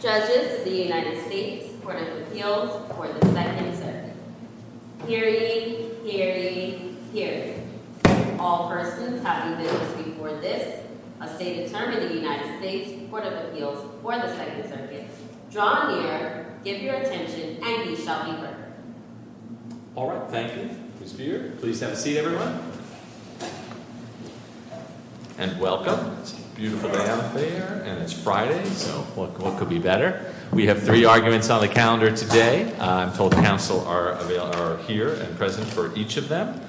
Judges, the United States, Court of Appeals, or the 2nd Circuit, hearing, hearing, hearing. All persons have been visited for this, a stated term in the United States, Court of Appeals, or the 2nd Circuit. Draw near, give your attention, and you shall be heard. All right, thank you. Ms. Beard, please have a seat, everyone. And welcome. It's a beautiful day out there, and it's Friday, so what could be better? We have three arguments on the calendar today. I'm told counsel are here and present for each of them.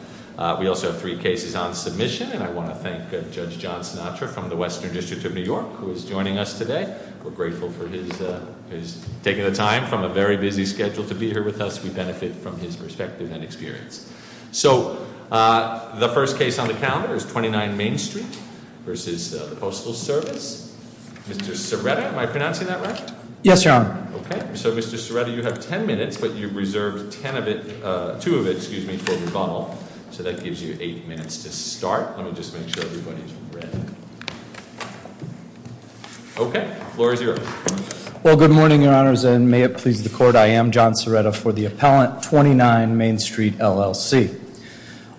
We also have three cases on submission, and I want to thank Judge John Sinatra from the Western District of New York, who is joining us today. We're grateful for his taking the time from a very busy schedule to be here with us. We benefit from his perspective and experience. So the first case on the calendar is 29 Main Street v. the Postal Service. Mr. Serretta, am I pronouncing that right? Yes, Your Honor. Okay. So, Mr. Serretta, you have ten minutes, but you reserved ten of it, two of it, excuse me, for rebuttal, so that gives you eight minutes to start. Let me just make sure everybody's ready. Okay. Floor is yours. Well, good morning, Your Honors, and may it please the Court. I am John Serretta for the appellant, 29 Main Street, LLC.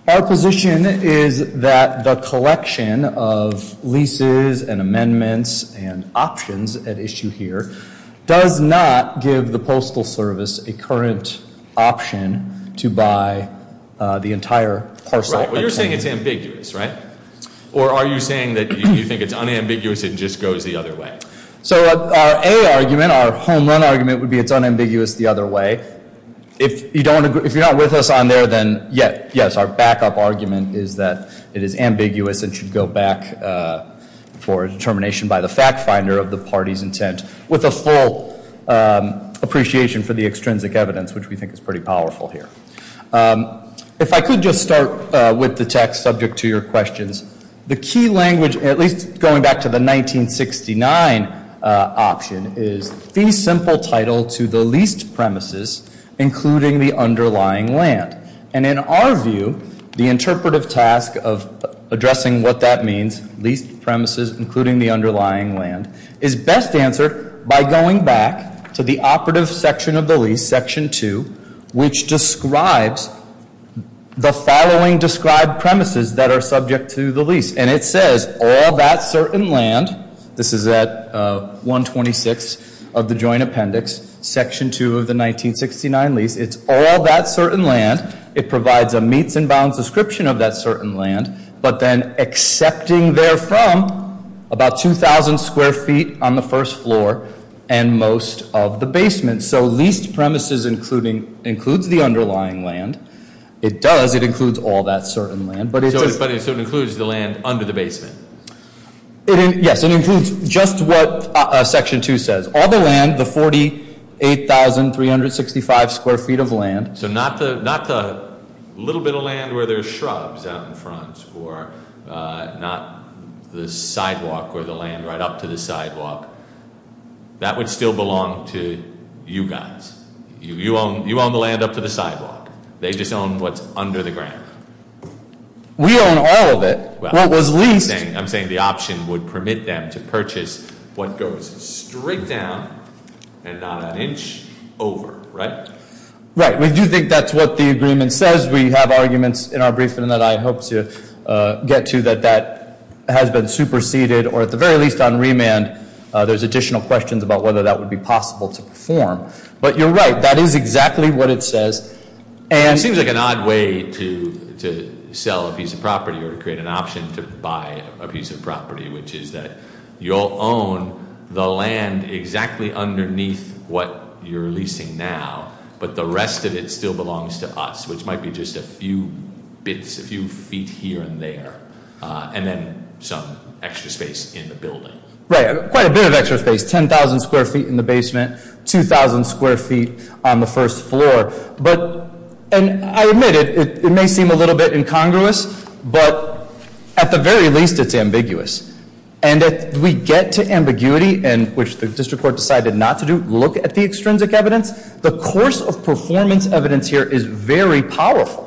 Our position is that the collection of leases and amendments and options at issue here does not give the Postal Service a current option to buy the entire parcel. Right. Well, you're saying it's ambiguous, right? Or are you saying that you think it's unambiguous and just goes the other way? So our A argument, our home run argument, would be it's unambiguous the other way. If you don't agree, if you're not with us on there, then yes, our backup argument is that it is ambiguous and should go back for determination by the fact finder of the party's intent with a full appreciation for the extrinsic evidence, which we think is pretty powerful here. If I could just start with the text subject to your questions, the key language, at least going back to the 1969 option, is the simple title to the leased premises, including the underlying land. And in our view, the interpretive task of addressing what that means, leased premises, including the underlying land, is best answered by going back to the operative section of which describes the following described premises that are subject to the lease. And it says all that certain land. This is at 126 of the joint appendix, section 2 of the 1969 lease. It's all that certain land. It provides a meets and bounds description of that certain land, but then accepting there from about 2,000 square feet on the first floor and most of the basement. So leased premises includes the underlying land. It does. It includes all that certain land. So it includes the land under the basement? Yes. It includes just what section 2 says. All the land, the 48,365 square feet of land. So not the little bit of land where there's shrubs out in front or not the sidewalk or That would still belong to you guys. You own the land up to the sidewalk. They just own what's under the ground. We own all of it. What was leased. I'm saying the option would permit them to purchase what goes straight down and not an inch over, right? Right. We do think that's what the agreement says. As we have arguments in our briefing that I hope to get to that that has been superseded or at the very least on remand, there's additional questions about whether that would be possible to perform. But you're right. That is exactly what it says. It seems like an odd way to sell a piece of property or create an option to buy a piece of property, which is that you'll own the land exactly underneath what you're leasing now, but the rest of it still belongs to us, which might be just a few bits, a few feet here and there, and then some extra space in the building. Right. Quite a bit of extra space, 10,000 square feet in the basement, 2,000 square feet on the first floor. But I admit it, it may seem a little bit incongruous, but at the very least it's ambiguous. And if we get to ambiguity, and which the district court decided not to do, look at the extrinsic evidence, the course of performance evidence here is very powerful.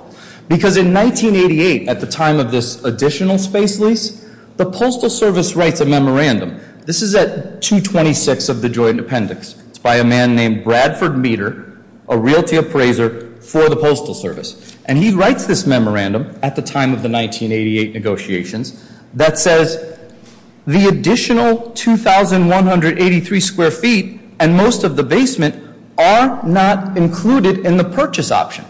Because in 1988, at the time of this additional space lease, the Postal Service writes a memorandum. This is at 226 of the Joint Appendix. It's by a man named Bradford Meter, a realty appraiser for the Postal Service. And he writes this memorandum at the time of the 1988 negotiations that says the additional 2,183 square feet and most of the basement are not included in the purchase option.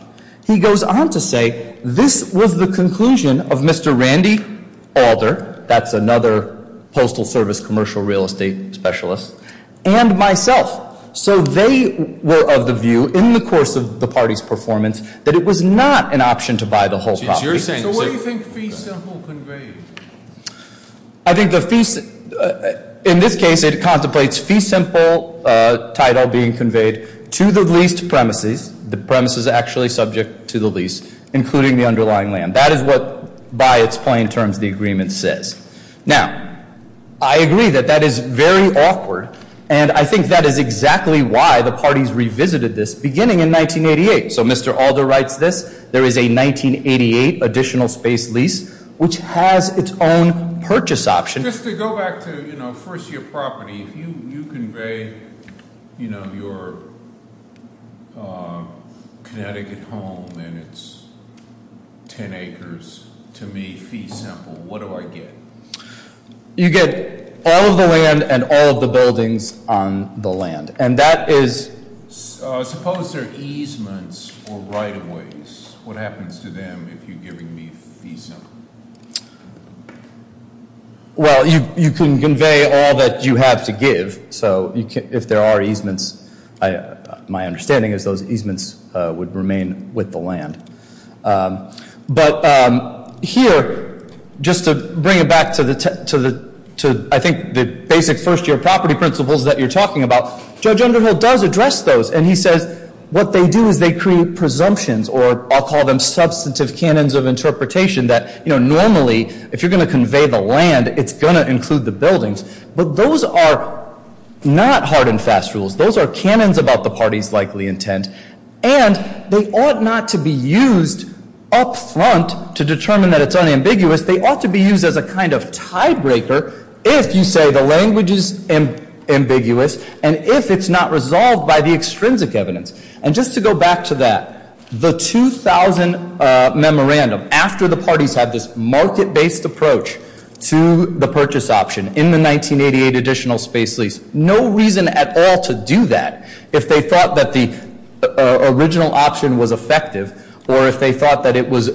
He goes on to say this was the conclusion of Mr. Randy Alder, that's another Postal Service commercial real estate specialist, and myself. So they were of the view in the course of the party's performance that it was not an option to buy the whole property. So what do you think fee simple conveyed? I think the fee, in this case it contemplates fee simple title being conveyed to the leased premises, the premises actually subject to the lease, including the underlying land. That is what by its plain terms the agreement says. Now, I agree that that is very awkward, and I think that is exactly why the party's revisited this beginning in 1988. So Mr. Alder writes this, there is a 1988 additional space lease, which has its own purchase option. Just to go back to first year property, if you convey your Connecticut home and it's ten acres to me fee simple, what do I get? You get all of the land and all of the buildings on the land. And that is- Suppose they're easements or right of ways. What happens to them if you're giving me fee simple? Well, you can convey all that you have to give. So if there are easements, my understanding is those easements would remain with the land. But here, just to bring it back to I think the basic first year property principles that you're talking about, Judge Underhill does address those, and he says what they do is they create presumptions, or I'll call them substantive canons of interpretation that normally if you're going to convey the land, it's going to include the buildings. But those are not hard and fast rules. Those are canons about the party's likely intent. And they ought not to be used up front to determine that it's unambiguous. They ought to be used as a kind of tiebreaker if you say the language is ambiguous and if it's not resolved by the extrinsic evidence. And just to go back to that, the 2000 memorandum, after the parties had this market-based approach to the purchase option in the 1988 additional space lease, no reason at all to do that if they thought that the original option was effective or if they thought that it was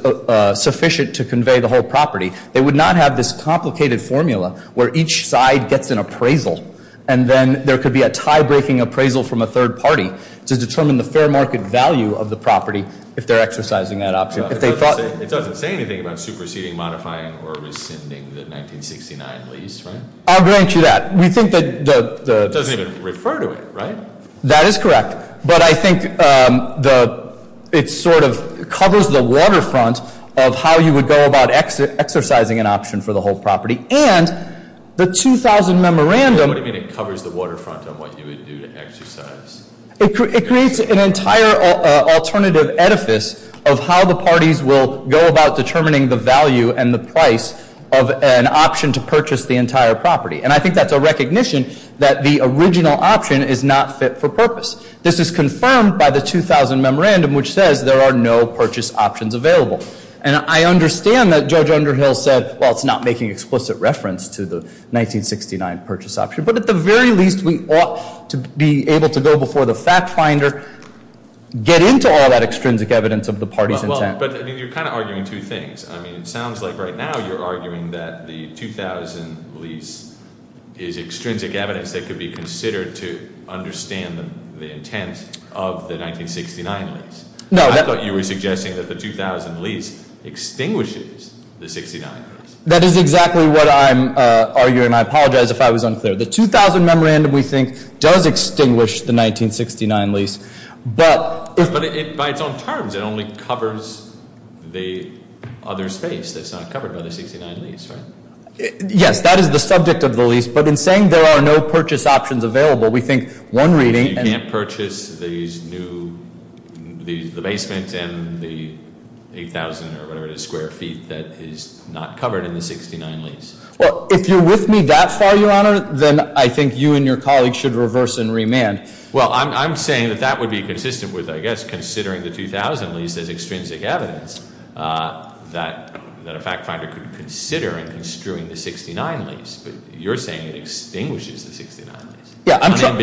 sufficient to convey the whole property. They would not have this complicated formula where each side gets an appraisal, and then there could be a tie-breaking appraisal from a third party to determine the fair market value of the property if they're exercising that option. It doesn't say anything about superseding, modifying, or rescinding the 1969 lease, right? I'll grant you that. It doesn't even refer to it, right? That is correct. But I think it sort of covers the waterfront of how you would go about exercising an option for the whole property. And the 2000 memorandum- What do you mean it covers the waterfront of what you would do to exercise? It creates an entire alternative edifice of how the parties will go about determining the value and the price of an option to purchase the entire property. And I think that's a recognition that the original option is not fit for purpose. This is confirmed by the 2000 memorandum, which says there are no purchase options available. And I understand that Judge Underhill said, well, it's not making explicit reference to the 1969 purchase option. But at the very least, we ought to be able to go before the fact finder, get into all that extrinsic evidence of the party's intent. But you're kind of arguing two things. I mean, it sounds like right now you're arguing that the 2000 lease is extrinsic evidence that could be considered to understand the intent of the 1969 lease. I thought you were suggesting that the 2000 lease extinguishes the 1969 lease. That is exactly what I'm arguing. I apologize if I was unclear. The 2000 memorandum, we think, does extinguish the 1969 lease. But- But by its own terms, it only covers the other space that's not covered by the 1969 lease, right? Yes, that is the subject of the lease. But in saying there are no purchase options available, we think one reading- You can't purchase these new, the basement and the 8,000 or whatever it is square feet that is not covered in the 69 lease. Well, if you're with me that far, Your Honor, then I think you and your colleagues should reverse and remand. Well, I'm saying that that would be consistent with, I guess, considering the 2000 lease as extrinsic evidence that a fact finder could consider in construing the 69 lease. But you're saying it extinguishes the 69 lease. Yeah, I'm trying-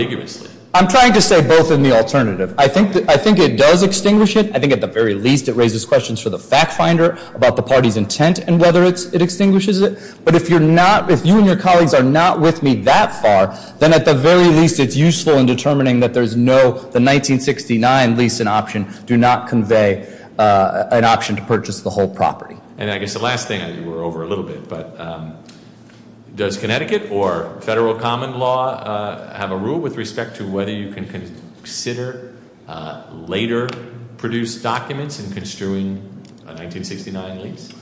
I'm trying to say both in the alternative. I think it does extinguish it. I think at the very least it raises questions for the fact finder about the party's intent and whether it extinguishes it. But if you're not- if you and your colleagues are not with me that far, then at the very least it's useful in determining that there's no- the 1969 lease and option do not convey an option to purchase the whole property. And I guess the last thing I do, we're over a little bit, but does Connecticut or federal common law have a rule with respect to whether you can consider later produced documents in construing a 1969 lease?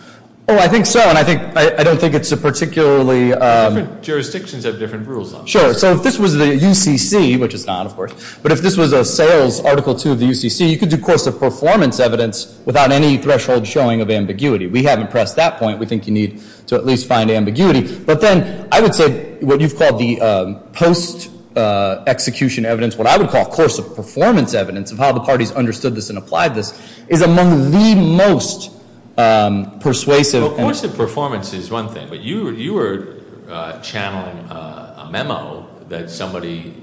Oh, I think so. And I think- I don't think it's a particularly- Different jurisdictions have different rules on it. Sure. So if this was the UCC, which it's not, of course, but if this was a sales article to the UCC, you could do course of performance evidence without any threshold showing of ambiguity. We haven't pressed that point. We think you need to at least find ambiguity. But then I would say what you've called the post-execution evidence, what I would call course of performance evidence of how the parties understood this and applied this, is among the most persuasive. Course of performance is one thing. But you were channeling a memo that somebody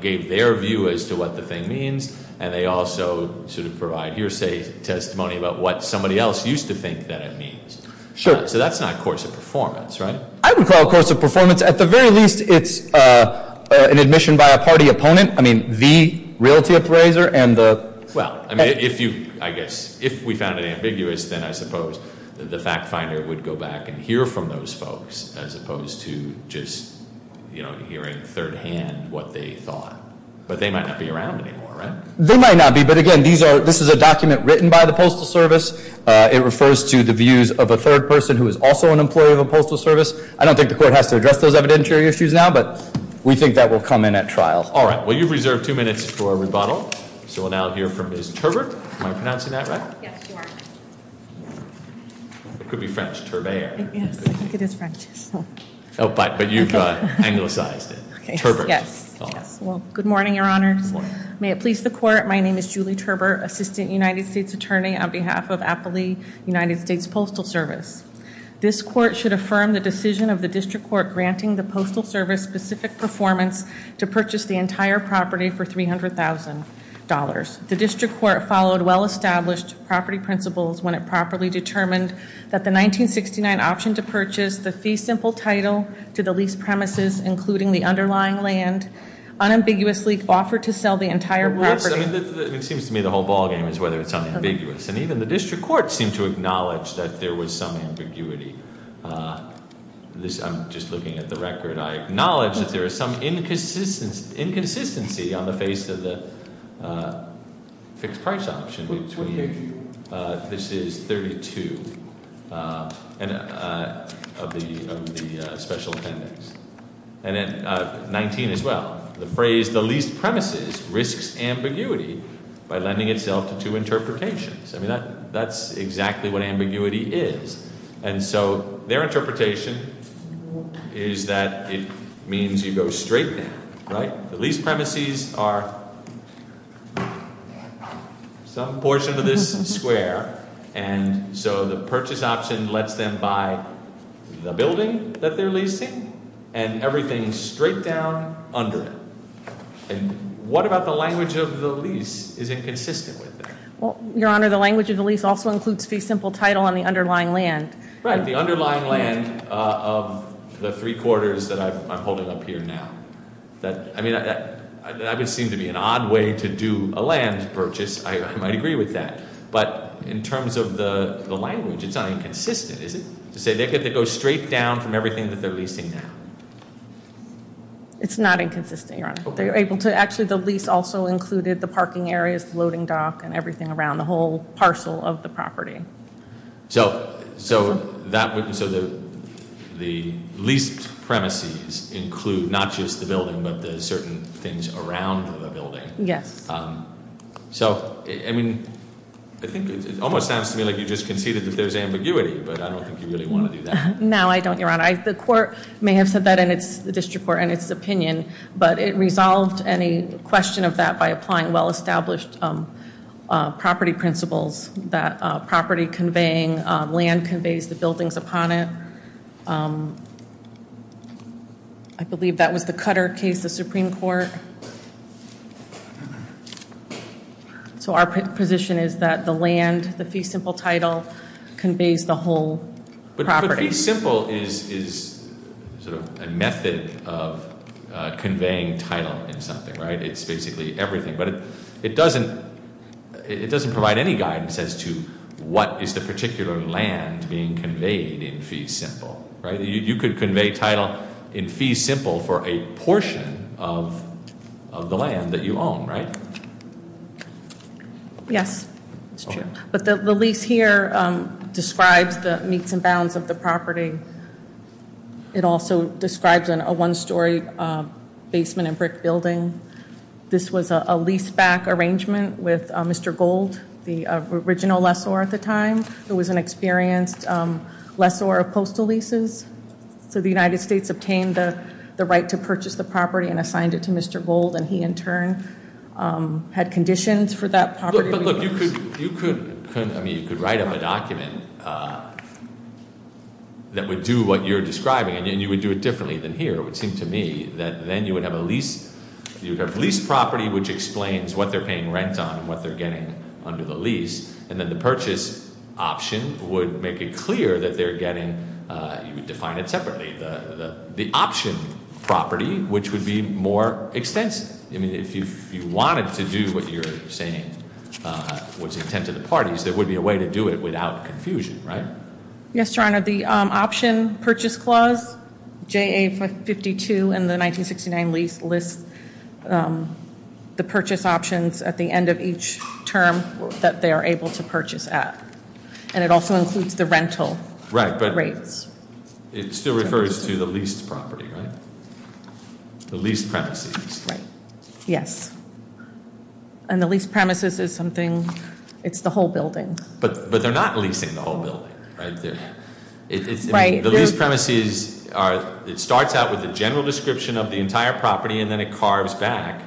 gave their view as to what the thing means, and they also sort of provide hearsay testimony about what somebody else used to think that it means. Sure. So that's not course of performance, right? I would call it course of performance. At the very least, it's an admission by a party opponent. I mean, the realty appraiser and the- Well, I mean, if you, I guess, if we found it ambiguous, then I suppose the fact finder would go back and hear from those folks as opposed to just hearing third hand what they thought. But they might not be around anymore, right? They might not be, but again, this is a document written by the postal service. It refers to the views of a third person who is also an employee of a postal service. I don't think the court has to address those evidentiary issues now, but we think that will come in at trial. All right. Well, you've reserved two minutes for rebuttal. So we'll now hear from Ms. Turbert. Am I pronouncing that right? Yes, you are. It could be French, Turbert. Yes, I think it is French. Oh, but you've anglicized it. Turbert. Yes, yes. Well, good morning, your honors. May it please the court. My name is Julie Turbert, Assistant United States Attorney on behalf of Appley United States Postal Service. This court should affirm the decision of the district court granting the postal service specific performance to purchase the entire property for $300,000. The district court followed well-established property principles when it properly determined that the 1969 option to purchase the fee simple title to the lease premises, including the underlying land, unambiguously offered to sell the entire property. It seems to me the whole ball game is whether it's unambiguous. And even the district court seemed to acknowledge that there was some ambiguity. I'm just looking at the record. I acknowledge that there is some inconsistency on the face of the fixed price option. This is 32 of the special appendix. And then 19 as well. The phrase the lease premises risks ambiguity by lending itself to two interpretations. I mean, that's exactly what ambiguity is. And so their interpretation is that it means you go straight down, right? The lease premises are some portion of this square. And so the purchase option lets them buy the building that they're leasing and everything straight down under it. And what about the language of the lease is inconsistent with it? Well, your honor, the language of the lease also includes fee simple title on the underlying land. Right. The underlying land of the three quarters that I'm holding up here now. I mean, that would seem to be an odd way to do a land purchase. I might agree with that. But in terms of the language, it's not inconsistent. Is it to say they could go straight down from everything that they're leasing now? It's not inconsistent. You're able to actually the lease also included the parking areas, loading dock and everything around the whole parcel of the property. So so that would be so that the least premises include not just the building, but the certain things around the building. Yes. So, I mean, I think it almost sounds to me like you just conceded that there's ambiguity. But I don't think you really want to do that. No, I don't, your honor. The court may have said that in its district court and its opinion. But it resolved any question of that by applying well established property principles that property conveying land conveys the buildings upon it. I believe that was the cutter case, the Supreme Court. So our position is that the land, the fee simple title conveys the whole property. Simple is sort of a method of conveying title in something, right? It's basically everything. It doesn't provide any guidance as to what is the particular land being conveyed in fee simple, right? You could convey title in fee simple for a portion of the land that you own, right? Yes. But the lease here describes the meets and bounds of the property. It also describes in a one story basement and brick building. This was a lease back arrangement with Mr. Gold, the original lessor at the time. It was an experienced lessor of postal leases. So the United States obtained the right to purchase the property and assigned it to Mr. Gold. And he in turn had conditions for that property. Look, you could write up a document that would do what you're describing. And you would do it differently than here. It would seem to me that then you would have a lease. You would have lease property which explains what they're paying rent on and what they're getting under the lease. And then the purchase option would make it clear that they're getting, you would define it separately. The option property, which would be more extensive. I mean, if you wanted to do what you're saying was intended to the parties, there would be a way to do it without confusion, right? Yes, Your Honor. The option purchase clause, J.A. 52 in the 1969 lease lists the purchase options at the end of each term that they are able to purchase at. And it also includes the rental rates. It still refers to the leased property, right? The leased premises. Yes. And the leased premises is something, it's the whole building. But they're not leasing the whole building, right? Right. The leased premises are, it starts out with a general description of the entire property and then it carves back,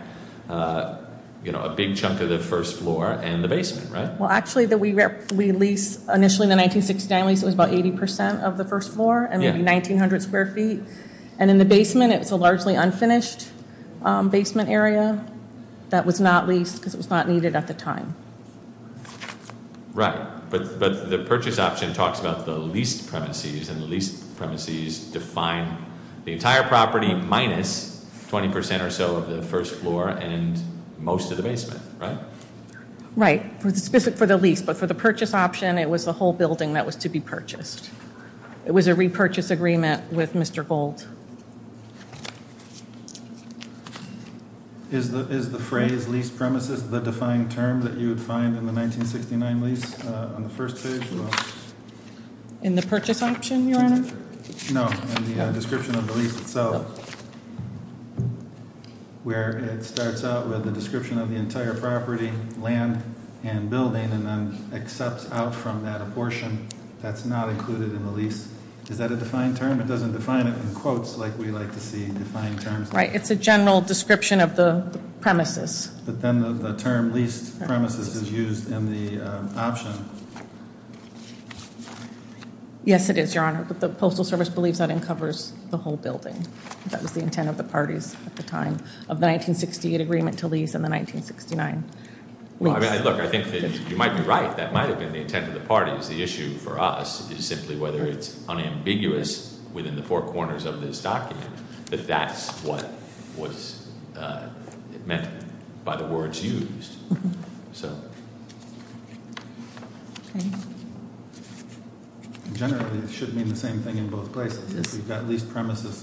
you know, a big chunk of the first floor and the basement, right? Well, actually, we lease initially in the 1960 lease, it was about 80% of the first floor and 1,900 square feet. And in the basement, it's a largely unfinished basement area that was not leased because it was not needed at the time. Right. But the purchase option talks about the leased premises and the leased premises define the entire property minus 20% or so of the first floor and most of the basement, right? Right. For the lease. But for the purchase option, it was the whole building that was to be purchased. It was a repurchase agreement with Mr. Gold. Is the phrase lease premises the defined term that you would find in the 1969 lease on the first page? In the purchase option, your honor. No. So. Where it starts out with the description of the entire property land and building and then accepts out from that a portion that's not included in the lease. Is that a defined term? It doesn't define it in quotes like we like to see defined terms. Right. It's a general description of the premises. But then the term leased premises is used in the option. Yes, it is, your honor. But the Postal Service believes that uncovers the whole building. That was the intent of the parties at the time of the 1968 agreement to lease in the 1969. Look, I think you might be right. That might have been the intent of the parties. The issue for us is simply whether it's unambiguous within the four corners of this document that that's what was meant by the words used. So. Okay. Generally, it should mean the same thing in both places, at least premises.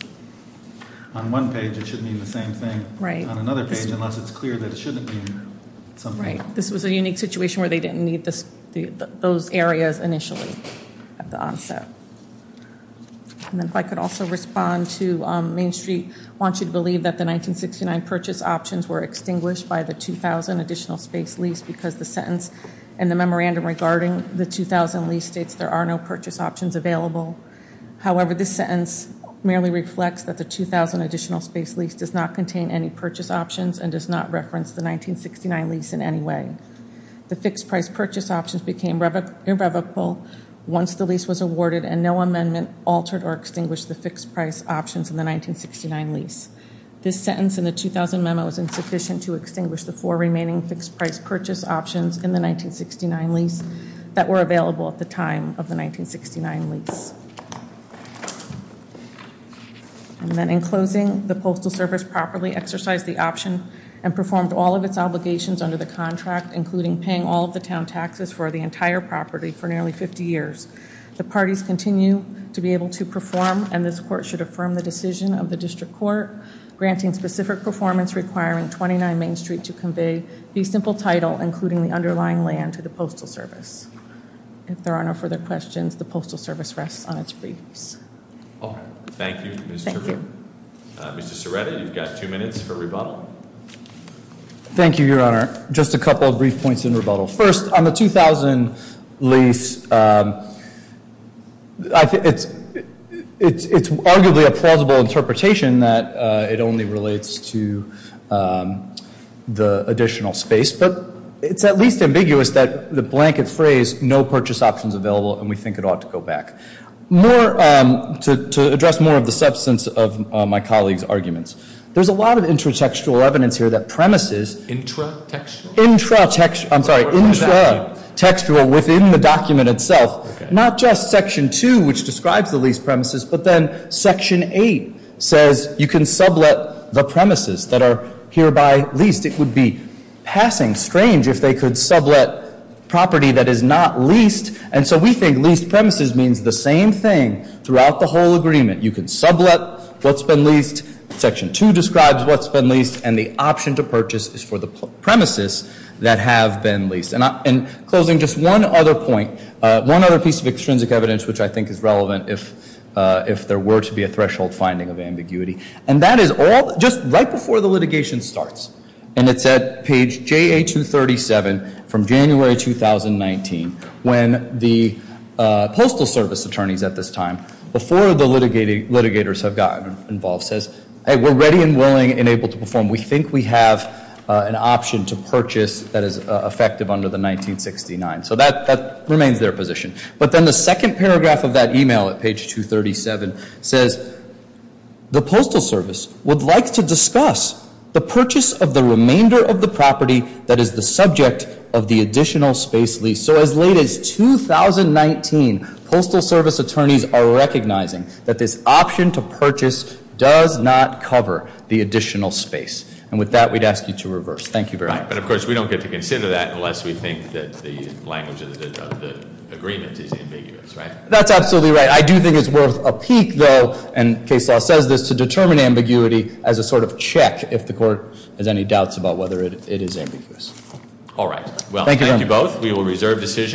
On one page, it should mean the same thing, right? On another page, unless it's clear that it shouldn't be something. This was a unique situation where they didn't need this. Those areas initially at the onset. And if I could also respond to Main Street. I want you to believe that the 1969 purchase options were extinguished by the 2000 additional space lease because the sentence. And the memorandum regarding the 2000 lease states there are no purchase options available. However, this sentence merely reflects that the 2000 additional space lease does not contain any purchase options and does not reference the 1969 lease in any way. The fixed price purchase options became irrevocable once the lease was awarded and no amendment altered or extinguished the fixed price options in the 1969 lease. This sentence in the 2000 memo is insufficient to extinguish the four remaining fixed price purchase options in the 1969 lease that were available at the time of the 1969 lease. And then in closing, the Postal Service properly exercised the option and performed all of its obligations under the contract, including paying all of the town taxes for the entire property for nearly 50 years. The parties continue to be able to perform and this court should affirm the decision of the district court. Granting specific performance requiring 29 Main Street to convey the simple title, including the underlying land to the Postal Service. If there are no further questions, the Postal Service rests on its briefs. Thank you. Mr. Serrata, you've got two minutes for rebuttal. Thank you, Your Honor. Just a couple of brief points in rebuttal. First, on the 2000 lease, it's arguably a plausible interpretation that it only relates to the additional space. But it's at least ambiguous that the blanket phrase, no purchase options available, and we think it ought to go back. More, to address more of the substance of my colleague's arguments, there's a lot of intratextual evidence here that premises. Intratextual? Intratextual, I'm sorry, intratextual within the document itself. Not just Section 2, which describes the leased premises, but then Section 8 says you can sublet the premises that are hereby leased. It would be passing strange if they could sublet property that is not leased. And so we think leased premises means the same thing throughout the whole agreement. You can sublet what's been leased, Section 2 describes what's been leased, and the option to purchase is for the premises that have been leased. And closing, just one other point, one other piece of extrinsic evidence which I think is relevant if there were to be a threshold finding of ambiguity. And that is all just right before the litigation starts. And it's at page JA237 from January 2019 when the Postal Service attorneys at this time, before the litigators have gotten involved, says, Hey, we're ready and willing and able to perform. We think we have an option to purchase that is effective under the 1969. So that remains their position. But then the second paragraph of that email at page 237 says, The Postal Service would like to discuss the purchase of the remainder of the property that is the subject of the additional space lease. So as late as 2019, Postal Service attorneys are recognizing that this option to purchase does not cover the additional space. And with that, we'd ask you to reverse. Thank you very much. But of course, we don't get to consider that unless we think that the language of the agreement is ambiguous, right? That's absolutely right. I do think it's worth a peek though, and case law says this, to determine ambiguity as a sort of check if the court has any doubts about whether it is ambiguous. All right. Thank you both. We will reserve decision.